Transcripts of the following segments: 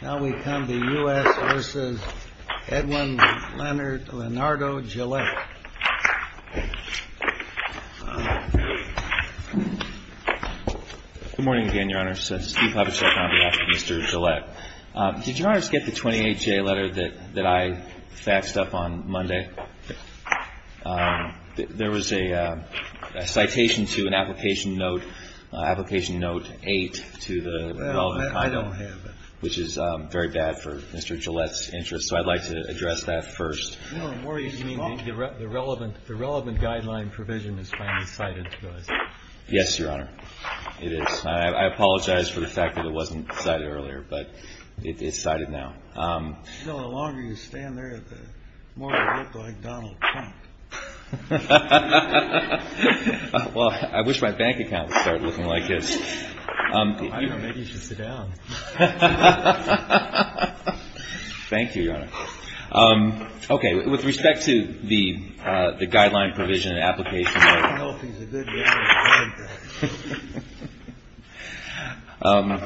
Now we come to U.S. v. Edwin Leonard Leonardo Gillette. Good morning again, Your Honor. Steve Habesheff on behalf of Mr. Gillette. Did Your Honor get the 28-J letter that I faxed up on Monday? There was a citation to an application note, application note 8, to the relevant… which is very bad for Mr. Gillette's interest, so I'd like to address that first. You mean the relevant guideline provision is finally cited to us? Yes, Your Honor, it is. I apologize for the fact that it wasn't cited earlier, but it's cited now. The longer you stand there, the more you look like Donald Trump. Well, I wish my bank account would start looking like his. I don't know. Maybe you should sit down. Thank you, Your Honor. Okay. With respect to the guideline provision, application note 8.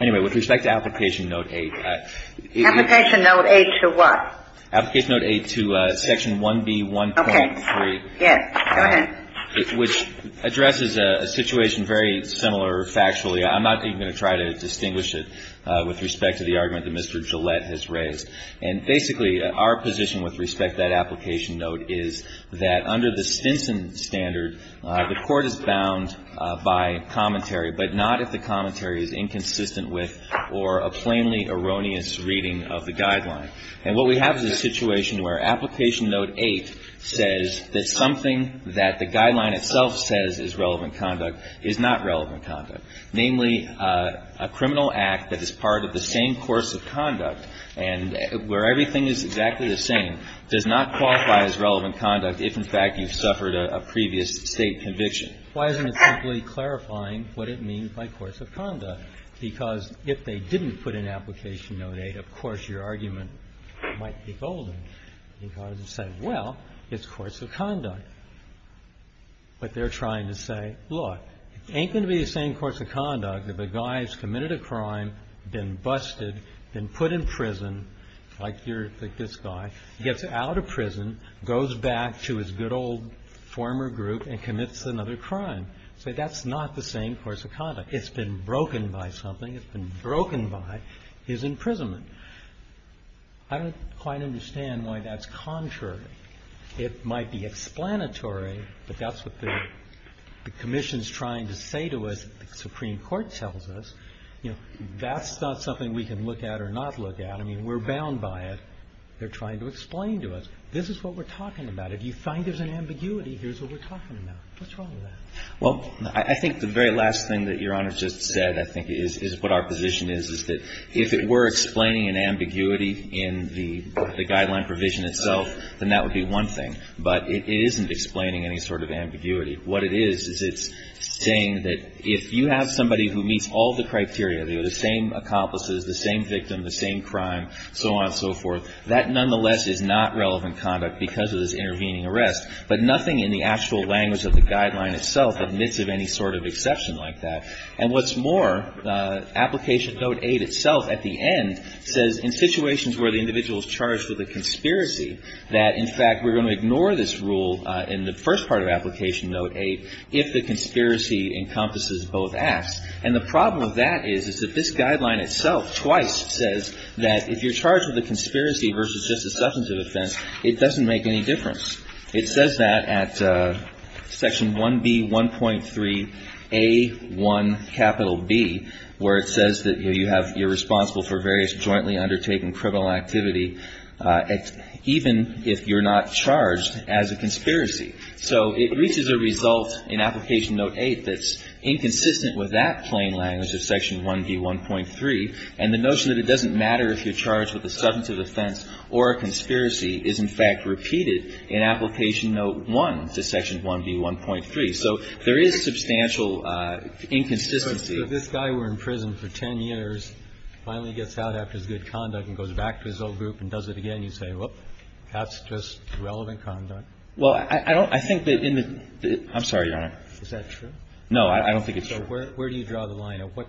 Anyway, with respect to application note 8. Application note 8 to what? Application note 8 to section 1B1.3. Okay. Yes. Go ahead. Which addresses a situation very similar factually. I'm not even going to try to distinguish it with respect to the argument that Mr. Gillette has raised. And basically, our position with respect to that application note is that under the Stinson standard, the court is bound by commentary, but not if the commentary is inconsistent with or a plainly erroneous reading of the guideline. And what we have is a situation where application note 8 says that something that the guideline itself says is relevant conduct is not relevant conduct. Namely, a criminal act that is part of the same course of conduct and where everything is exactly the same does not qualify as relevant conduct if, in fact, you've suffered a previous State conviction. Why isn't it simply clarifying what it means by course of conduct? Because if they didn't put in application note 8, of course, your argument might be golden. Because it said, well, it's course of conduct. But they're trying to say, look, it ain't going to be the same course of conduct if a guy has committed a crime, been busted, been put in prison, like this guy, gets out of prison, goes back to his good old former group and commits another crime. So that's not the same course of conduct. It's been broken by something. It's been broken by his imprisonment. I don't quite understand why that's contrary. It might be explanatory, but that's what the commission is trying to say to us, the Supreme Court tells us. You know, that's not something we can look at or not look at. I mean, we're bound by it. They're trying to explain to us. This is what we're talking about. If you find there's an ambiguity, here's what we're talking about. What's wrong with that? Well, I think the very last thing that Your Honor just said, I think, is what our position is, is that if it were explaining an ambiguity in the guideline provision itself, then that would be one thing. But it isn't explaining any sort of ambiguity. What it is is it's saying that if you have somebody who meets all the criteria, the same accomplices, the same victim, the same crime, so on and so forth, that nonetheless is not relevant conduct because of this intervening arrest. But nothing in the actual language of the guideline itself admits of any sort of exception like that. And what's more, Application Note 8 itself at the end says in situations where the individual is charged with a conspiracy, that in fact we're going to ignore this rule in the first part of Application Note 8 if the conspiracy encompasses both acts. And the problem with that is, is that this guideline itself twice says that if you're charged with a conspiracy versus just a substantive offense, it doesn't make any difference. It says that at Section 1B1.3A1B, where it says that you have you're responsible for various jointly undertaken criminal activity even if you're not charged as a conspiracy. So it reaches a result in Application Note 8 that's inconsistent with that plain language of Section 1B1.3, and the notion that it doesn't matter if you're charged with a substantive offense or a conspiracy is, in fact, repeated in Application Note 1 to Section 1B1.3. So there is substantial inconsistency. Kennedy. So if this guy were in prison for 10 years, finally gets out after his good conduct and goes back to his old group and does it again, you say, well, that's just relevant conduct? Well, I don't think that in the ---- I'm sorry, Your Honor. Is that true? No, I don't think it's true. So where do you draw the line? At what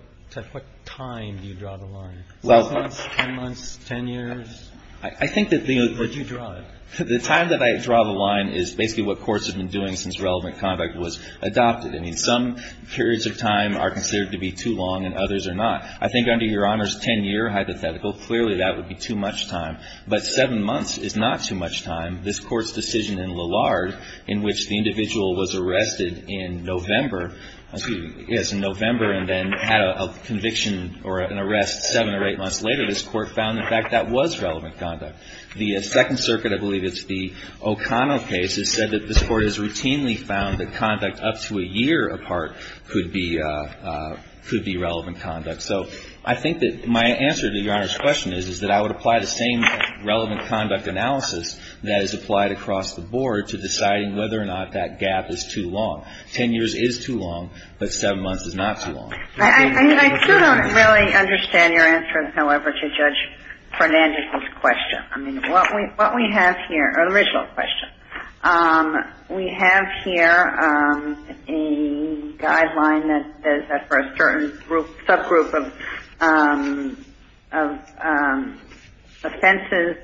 time do you draw the line? Six months, 10 months, 10 years? I think that the ---- Where do you draw it? The time that I draw the line is basically what courts have been doing since relevant conduct was adopted. I mean, some periods of time are considered to be too long and others are not. I think under Your Honor's 10-year hypothetical, clearly that would be too much time. But seven months is not too much time. This Court's decision in Lillard in which the individual was arrested in November and then had a conviction or an arrest seven or eight months later, this Court found in fact that was relevant conduct. The Second Circuit, I believe it's the O'Connell case, has said that this Court has routinely found that conduct up to a year apart could be relevant conduct. So I think that my answer to Your Honor's question is that I would apply the same relevant conduct analysis that is applied across the board to deciding whether or not that gap is too long. Ten years is too long, but seven months is not too long. I still don't really understand your answer, however, to Judge Fernandez's question. I mean, what we have here, or the original question, we have here a guideline that says that for a certain subgroup of offenses,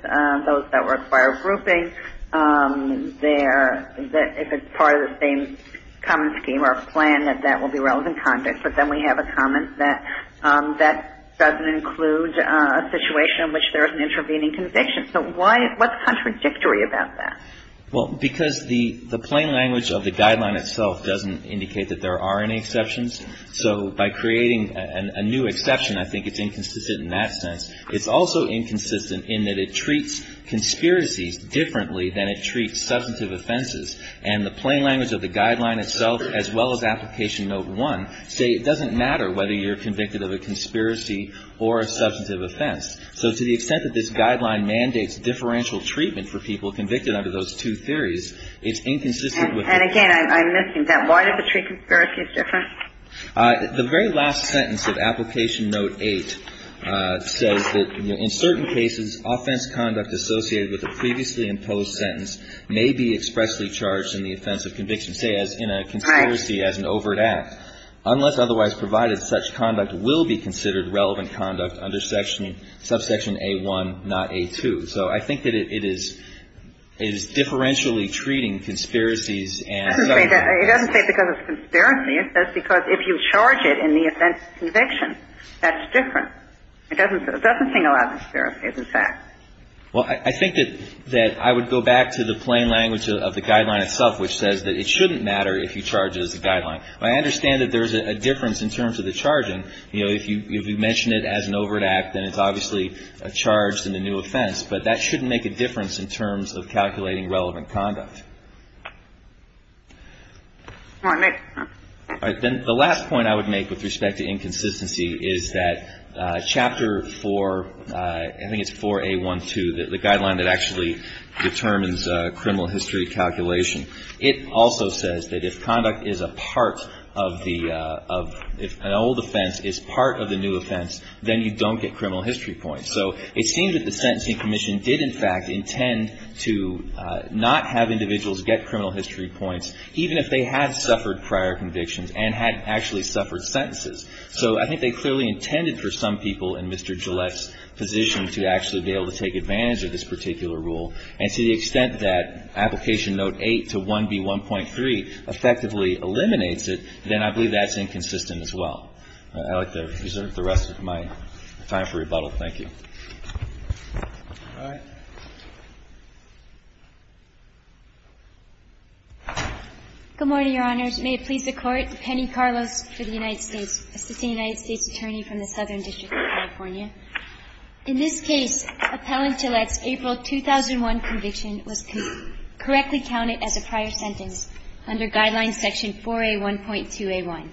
those that require grouping, if it's part of the same common scheme or plan, that that will be relevant conduct. But then we have a comment that that doesn't include a situation in which there is an intervening conviction. So what's contradictory about that? Well, because the plain language of the guideline itself doesn't indicate that there are any exceptions. So by creating a new exception, I think it's inconsistent in that sense. It's also inconsistent in that it treats conspiracies differently than it treats substantive offenses. And the plain language of the guideline itself, as well as Application Note 1, say it doesn't matter whether you're convicted of a conspiracy or a substantive offense. So to the extent that this guideline mandates differential treatment for people convicted under those two theories, it's inconsistent with that. And again, I'm missing that. Why does it treat conspiracies differently? The very last sentence of Application Note 8 says that in certain cases, offense conduct associated with a previously imposed sentence may be expressly charged in the offense of conviction, say as in a conspiracy as an overt act. Unless otherwise provided, such conduct will be considered relevant conduct under subsection A1, not A2. So I think that it is differentially treating conspiracies and subsections. It doesn't say because it's a conspiracy. It says because if you charge it in the offense of conviction, that's different. It doesn't say a lot of conspiracies, in fact. Well, I think that I would go back to the plain language of the guideline itself, which says that it shouldn't matter if you charge it as a guideline. I understand that there's a difference in terms of the charging. You know, if you mention it as an overt act, then it's obviously charged in the new offense. But that shouldn't make a difference in terms of calculating relevant conduct. All right. Then the last point I would make with respect to inconsistency is that Chapter 4, I think it's 4A12, the guideline that actually determines criminal history calculation. It also says that if conduct is a part of the — if an old offense is part of the new offense, then you don't get criminal history points. So it seems that the Sentencing Commission did, in fact, intend to not have individuals get criminal history points, even if they had suffered prior convictions and had actually suffered sentences. So I think they clearly intended for some people in Mr. Gillette's position to actually be able to take advantage of this particular rule. And to the extent that Application Note 8 to 1B1.3 effectively eliminates it, then I believe that's inconsistent as well. I'd like to reserve the rest of my time for rebuttal. Thank you. All right. Good morning, Your Honors. May it please the Court. Penny Carlos for the United States, assisting United States Attorney from the Southern District of California. In this case, Appellant Gillette's April 2001 conviction was correctly counted as a prior sentence under Guideline Section 4A1.2a1.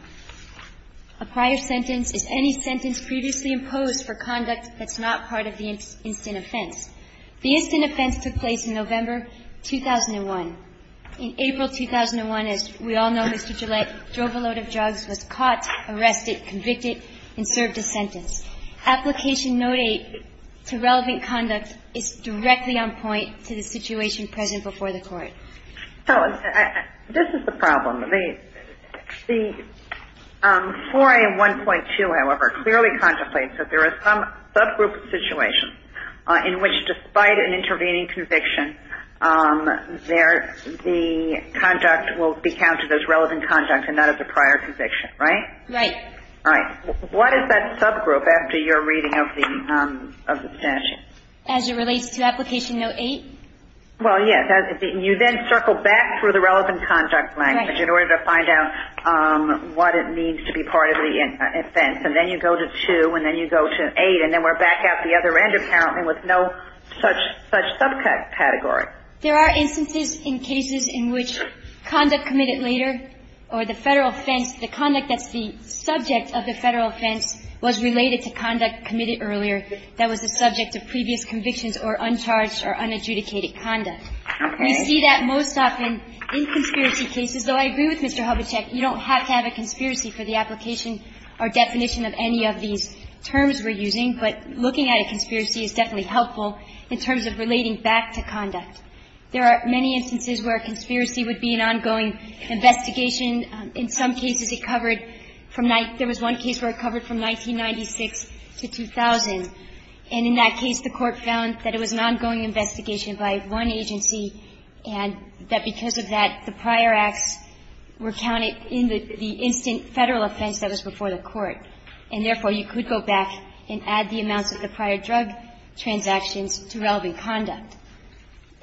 A prior sentence is any sentence previously imposed for conduct that's not part of the instant offense. The instant offense took place in November 2001. In April 2001, as we all know, Mr. Gillette drove a load of drugs, was caught, arrested, convicted, and served a sentence. Application Note 8 to relevant conduct is directly on point to the situation present before the Court. So this is the problem. The 4A1.2, however, clearly contemplates that there are some subgroup situations in which, despite an intervening conviction, the conduct will be counted as relevant conduct and not as a prior conviction, right? Right. Right. What is that subgroup after your reading of the statute? As it relates to Application Note 8? Well, yes. You then circle back through the relevant conduct language in order to find out what it means to be part of the offense. And then you go to 2, and then you go to 8, and then we're back at the other end, apparently, with no such subcategory. There are instances in cases in which conduct committed later or the Federal offense the conduct that's the subject of the Federal offense was related to conduct committed earlier that was the subject of previous convictions or uncharged or unadjudicated conduct. Okay. We see that most often in conspiracy cases, though I agree with Mr. Hubachek. You don't have to have a conspiracy for the application or definition of any of these terms we're using, but looking at a conspiracy is definitely helpful in terms of relating back to conduct. There are many instances where a conspiracy would be an ongoing investigation. In some cases, it covered from 19 — there was one case where it covered from 1996 to 2000. And in that case, the Court found that it was an ongoing investigation by one agency and that because of that, the prior acts were counted in the instant Federal offense that was before the Court. And therefore, you could go back and add the amounts of the prior drug transactions to relevant conduct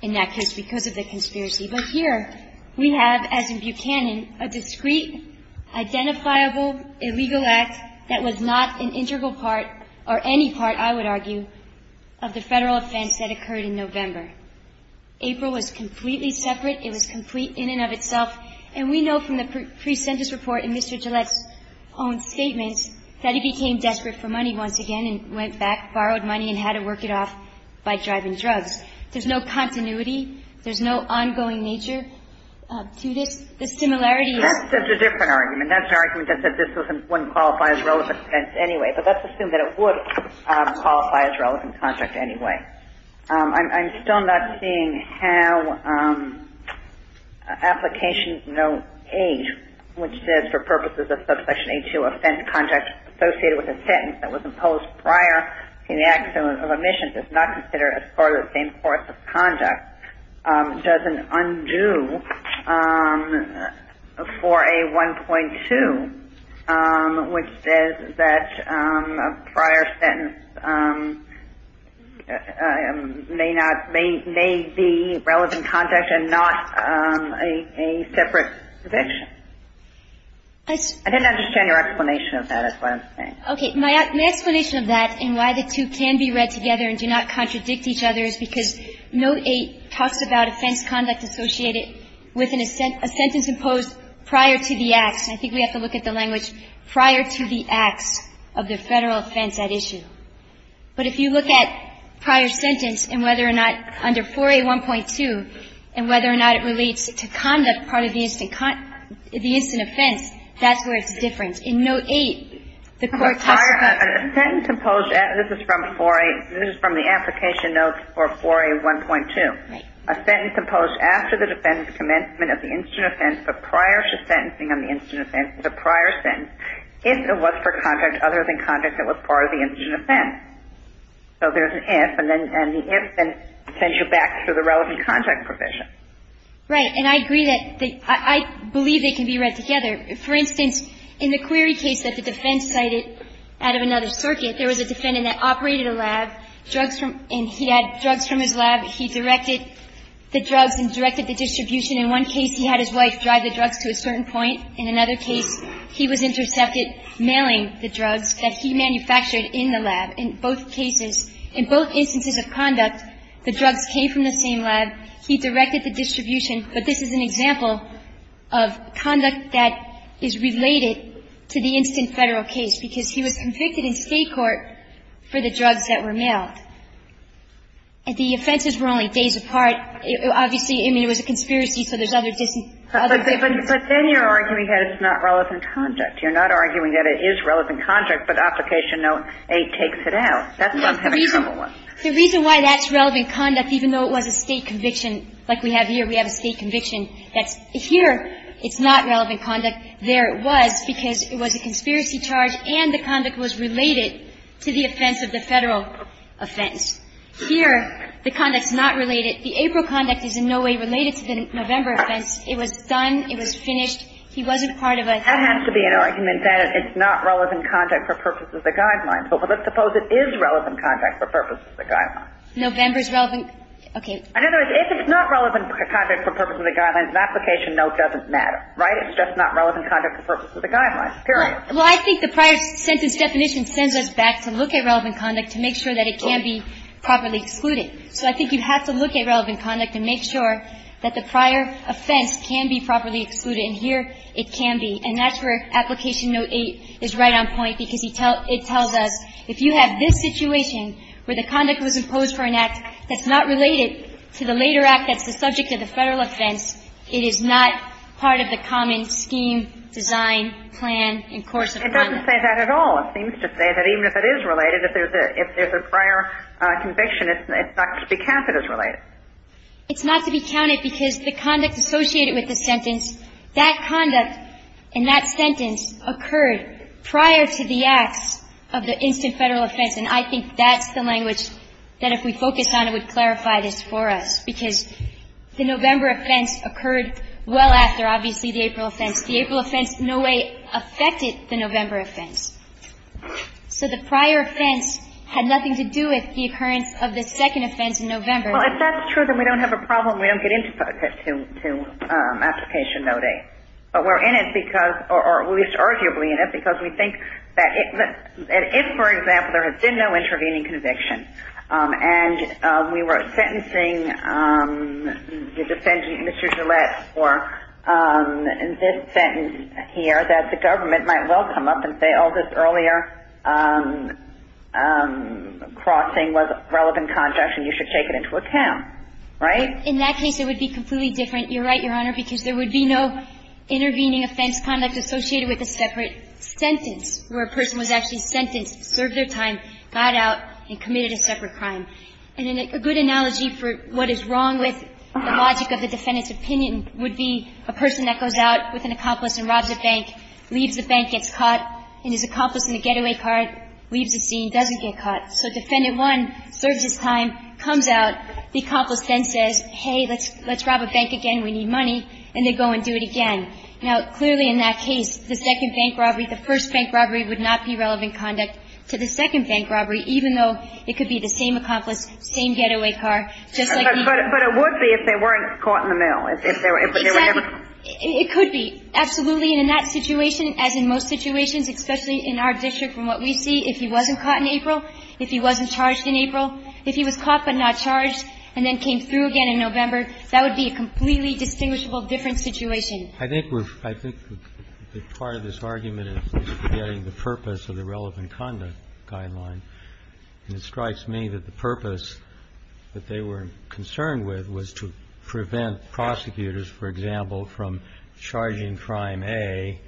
in that case because of the conspiracy. But here we have, as in Buchanan, a discrete, identifiable, illegal act that was not an integral part or any part, I would argue, of the Federal offense that occurred in November. April was completely separate. It was complete in and of itself. And we know from the pre-sentence report in Mr. Gillett's own statement that he became desperate for money once again and went back, borrowed money and had to work it off by driving drugs. There's no continuity. There's no ongoing nature to this. The similarity is — That's a different argument. That's an argument that says this wouldn't qualify as relevant conduct anyway. But let's assume that it would qualify as relevant conduct anyway. I'm still not seeing how Application Note 8, which says, for purposes of Subsection A2, offense conduct associated with a sentence that was imposed prior to the accident of omission, does not consider it as part of the same course of conduct, doesn't undo 4A1.2, which says that a prior sentence may not — may be relevant conduct and not a separate conviction. I didn't understand your explanation of that, is what I'm saying. Okay. My explanation of that and why the two can be read together and do not contradict each other is because Note 8 talks about offense conduct associated with a sentence imposed prior to the acts. But if you look at prior sentence and whether or not — under 4A1.2 and whether or not it relates to conduct part of the instant — the instant offense, that's where it's different. In Note 8, the court talks about — A sentence imposed — this is from 4A — this is from the Application Notes for 4A1.2. Right. A sentence imposed after the defendant's commencement of the instant offense, but prior to sentencing on the instant offense, is a prior sentence, if it was for other than conduct that was part of the instant offense. So there's an if, and then — and the if then sends you back to the relevant conduct provision. Right. And I agree that the — I believe they can be read together. For instance, in the query case that the defense cited out of another circuit, there was a defendant that operated a lab, drugs from — and he had drugs from his lab. He directed the drugs and directed the distribution. In one case, he had his wife drive the drugs to a certain point. In another case, he was intercepted mailing the drugs that he manufactured in the lab. In both cases, in both instances of conduct, the drugs came from the same lab. He directed the distribution. But this is an example of conduct that is related to the instant Federal case, because he was convicted in State court for the drugs that were mailed. And the offenses were only days apart. Obviously, I mean, it was a conspiracy, so there's other — But then you're arguing that it's not relevant conduct. You're not arguing that it is relevant conduct, but Application Note 8 takes it out. That's not the reasonable one. The reason why that's relevant conduct, even though it was a State conviction like we have here, we have a State conviction that's — here, it's not relevant conduct. There it was, because it was a conspiracy charge and the conduct was related to the offense of the Federal offense. Here, the conduct's not related. The April conduct is in no way related to the November offense. It was done. It was finished. He wasn't part of a — That has to be an argument that it's not relevant conduct for purposes of the guidelines. But let's suppose it is relevant conduct for purposes of the guidelines. November's relevant — okay. In other words, if it's not relevant conduct for purposes of the guidelines, Application Note doesn't matter, right? It's just not relevant conduct for purposes of the guidelines, period. Well, I think the prior sentence definition sends us back to look at relevant conduct to make sure that it can be properly excluded. So I think you have to look at relevant conduct to make sure that the prior offense can be properly excluded. And here, it can be. And that's where Application Note 8 is right on point, because it tells us if you have this situation where the conduct was imposed for an act that's not related to the later act that's the subject of the Federal offense, it is not part of the common scheme, design, plan, and course of conduct. It doesn't say that at all. It seems to say that even if it is related, if there's a prior conviction, it's not to be counted as related. It's not to be counted because the conduct associated with the sentence, that conduct in that sentence occurred prior to the acts of the instant Federal offense. And I think that's the language that, if we focus on it, would clarify this for us, because the November offense occurred well after, obviously, the April offense. The April offense in no way affected the November offense. So the prior offense had nothing to do with the occurrence of the second offense in November. Well, if that's true, then we don't have a problem. We don't get into Application Note 8. But we're in it because, or at least arguably in it, because we think that if, for example, there had been no intervening conviction, and we were sentencing the defendant, Mr. Gillette, for this sentence here, that the government might well come up and say, well, this earlier crossing was a relevant contraction. You should take it into account. Right? In that case, it would be completely different. You're right, Your Honor, because there would be no intervening offense conduct associated with a separate sentence where a person was actually sentenced, served their time, got out, and committed a separate crime. And a good analogy for what is wrong with the logic of the defendant's opinion would be a person that goes out with an accomplice and robs a bank, leaves the bank, gets caught, and his accomplice in the getaway car leaves the scene, doesn't get caught. So Defendant 1 serves his time, comes out. The accomplice then says, hey, let's rob a bank again. We need money. And they go and do it again. Now, clearly in that case, the second bank robbery, the first bank robbery would not be relevant conduct to the second bank robbery, even though it could be the same accomplice, same getaway car, just like the other. But it would be if they weren't caught in the mill, if they were never caught. It could be, absolutely. And in that situation, as in most situations, especially in our district from what we see, if he wasn't caught in April, if he wasn't charged in April, if he was caught but not charged and then came through again in November, that would be a completely distinguishable different situation. I think we're – I think part of this argument is forgetting the purpose of the relevant conduct guideline. And it strikes me that the purpose that they were concerned with was to prevent prosecutors, for example, from charging crime A.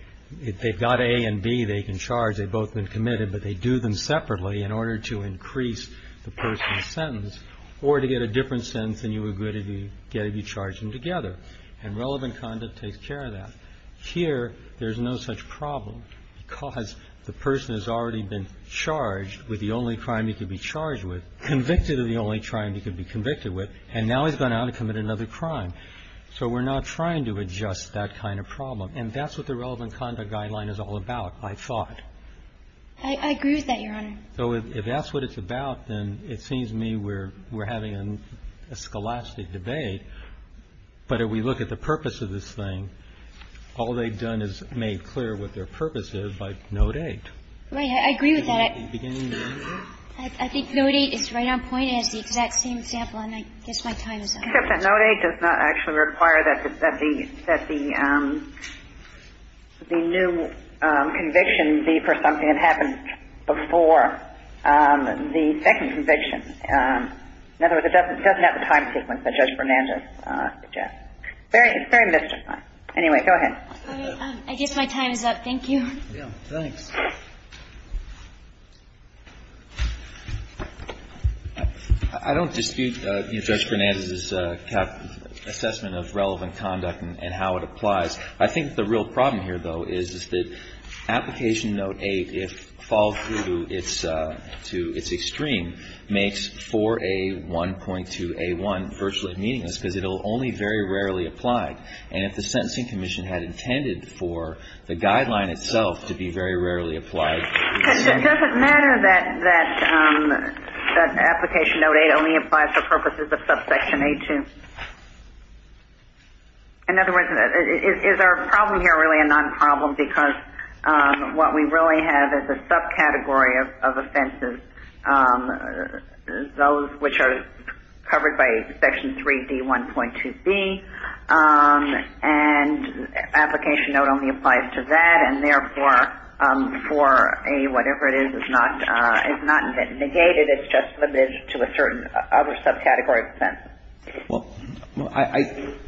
If they've got A and B, they can charge. They've both been committed. But they do them separately in order to increase the person's sentence or to get a different sentence than you would get if you charged them together. And relevant conduct takes care of that. Here, there's no such problem because the person has already been charged with the only crime he could be charged with, convicted of the only crime he could be convicted with, and now he's gone out and committed another crime. So we're not trying to adjust that kind of problem. And that's what the relevant conduct guideline is all about, I thought. I agree with that, Your Honor. So if that's what it's about, then it seems to me we're having a scholastic debate, but if we look at the purpose of this thing, all they've done is made clear what their purpose is by Note 8. Right. I agree with that. I think Note 8 is right on point. Note 8 is the exact same example, and I guess my time is up. Except that Note 8 does not actually require that the new conviction be for something that happened before the second conviction. In other words, it doesn't have the time sequence that Judge Fernandez suggested. It's very mystified. Anyway, go ahead. I guess my time is up. Thank you. Thanks. I don't dispute Judge Fernandez's assessment of relevant conduct and how it applies. I think the real problem here, though, is that Application Note 8, if followed through to its extreme, makes 4A1.2A1 virtually meaningless because it will only very rarely apply. And if the Sentencing Commission had intended for the guideline itself to be very rarely applied. Does it matter that Application Note 8 only applies for purposes of subsection A2? In other words, is our problem here really a non-problem because what we really have is a subcategory of offenses, those which are covered by Section 3D1.2B, and Application Note only applies to that. And therefore, for a whatever it is, it's not negated. It's just limited to a certain other subcategory of offense. Well,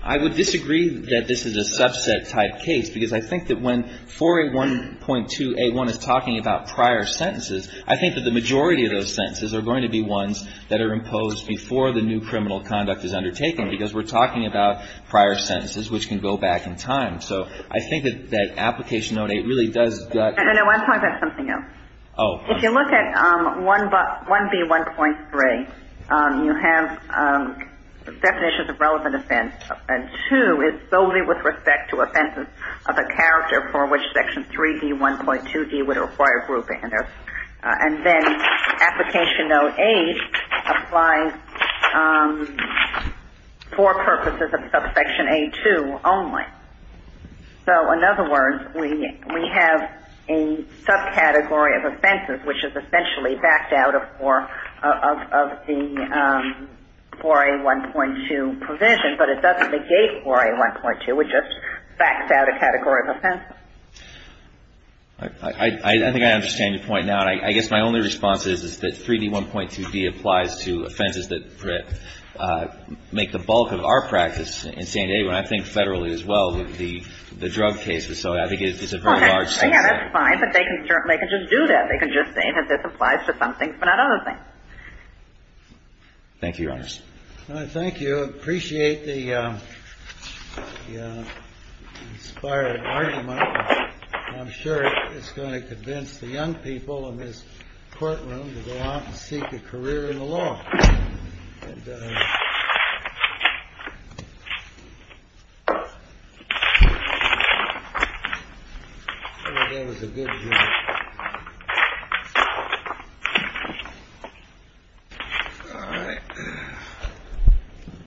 I would disagree that this is a subset type case because I think that when 4A1.2A1 is talking about prior sentences, I think that the majority of those sentences are going to be ones that are imposed before the new criminal conduct is undertaken because we're talking about prior sentences which can go back in time. So I think that Application Note 8 really does that. I know. I'm talking about something else. Oh. If you look at 1B1.3, you have definitions of relevant offense, and 2 is solely with respect to offenses of a character for which Section 3D1.2E would require grouping. And then Application Note 8 applies for purposes of subsection A2 only. So in other words, we have a subcategory of offenses which is essentially backed out of the 4A1.2 provision, but it doesn't negate 4A1.2. It just backs out a category of offenses. I think I understand your point now, and I guess my only response is that 3B1.2B applies to offenses that make the bulk of our practice in San Diego, and I think federally as well, the drug cases. So I think it's a very large subset. Well, yeah, that's fine, but they can just do that. They can just say that this applies to some things but not other things. Thank you, Your Honors. Thank you. I do appreciate the inspired argument. I'm sure it's going to convince the young people in this courtroom to go out and seek a career in the law. I think that was a good view. All right.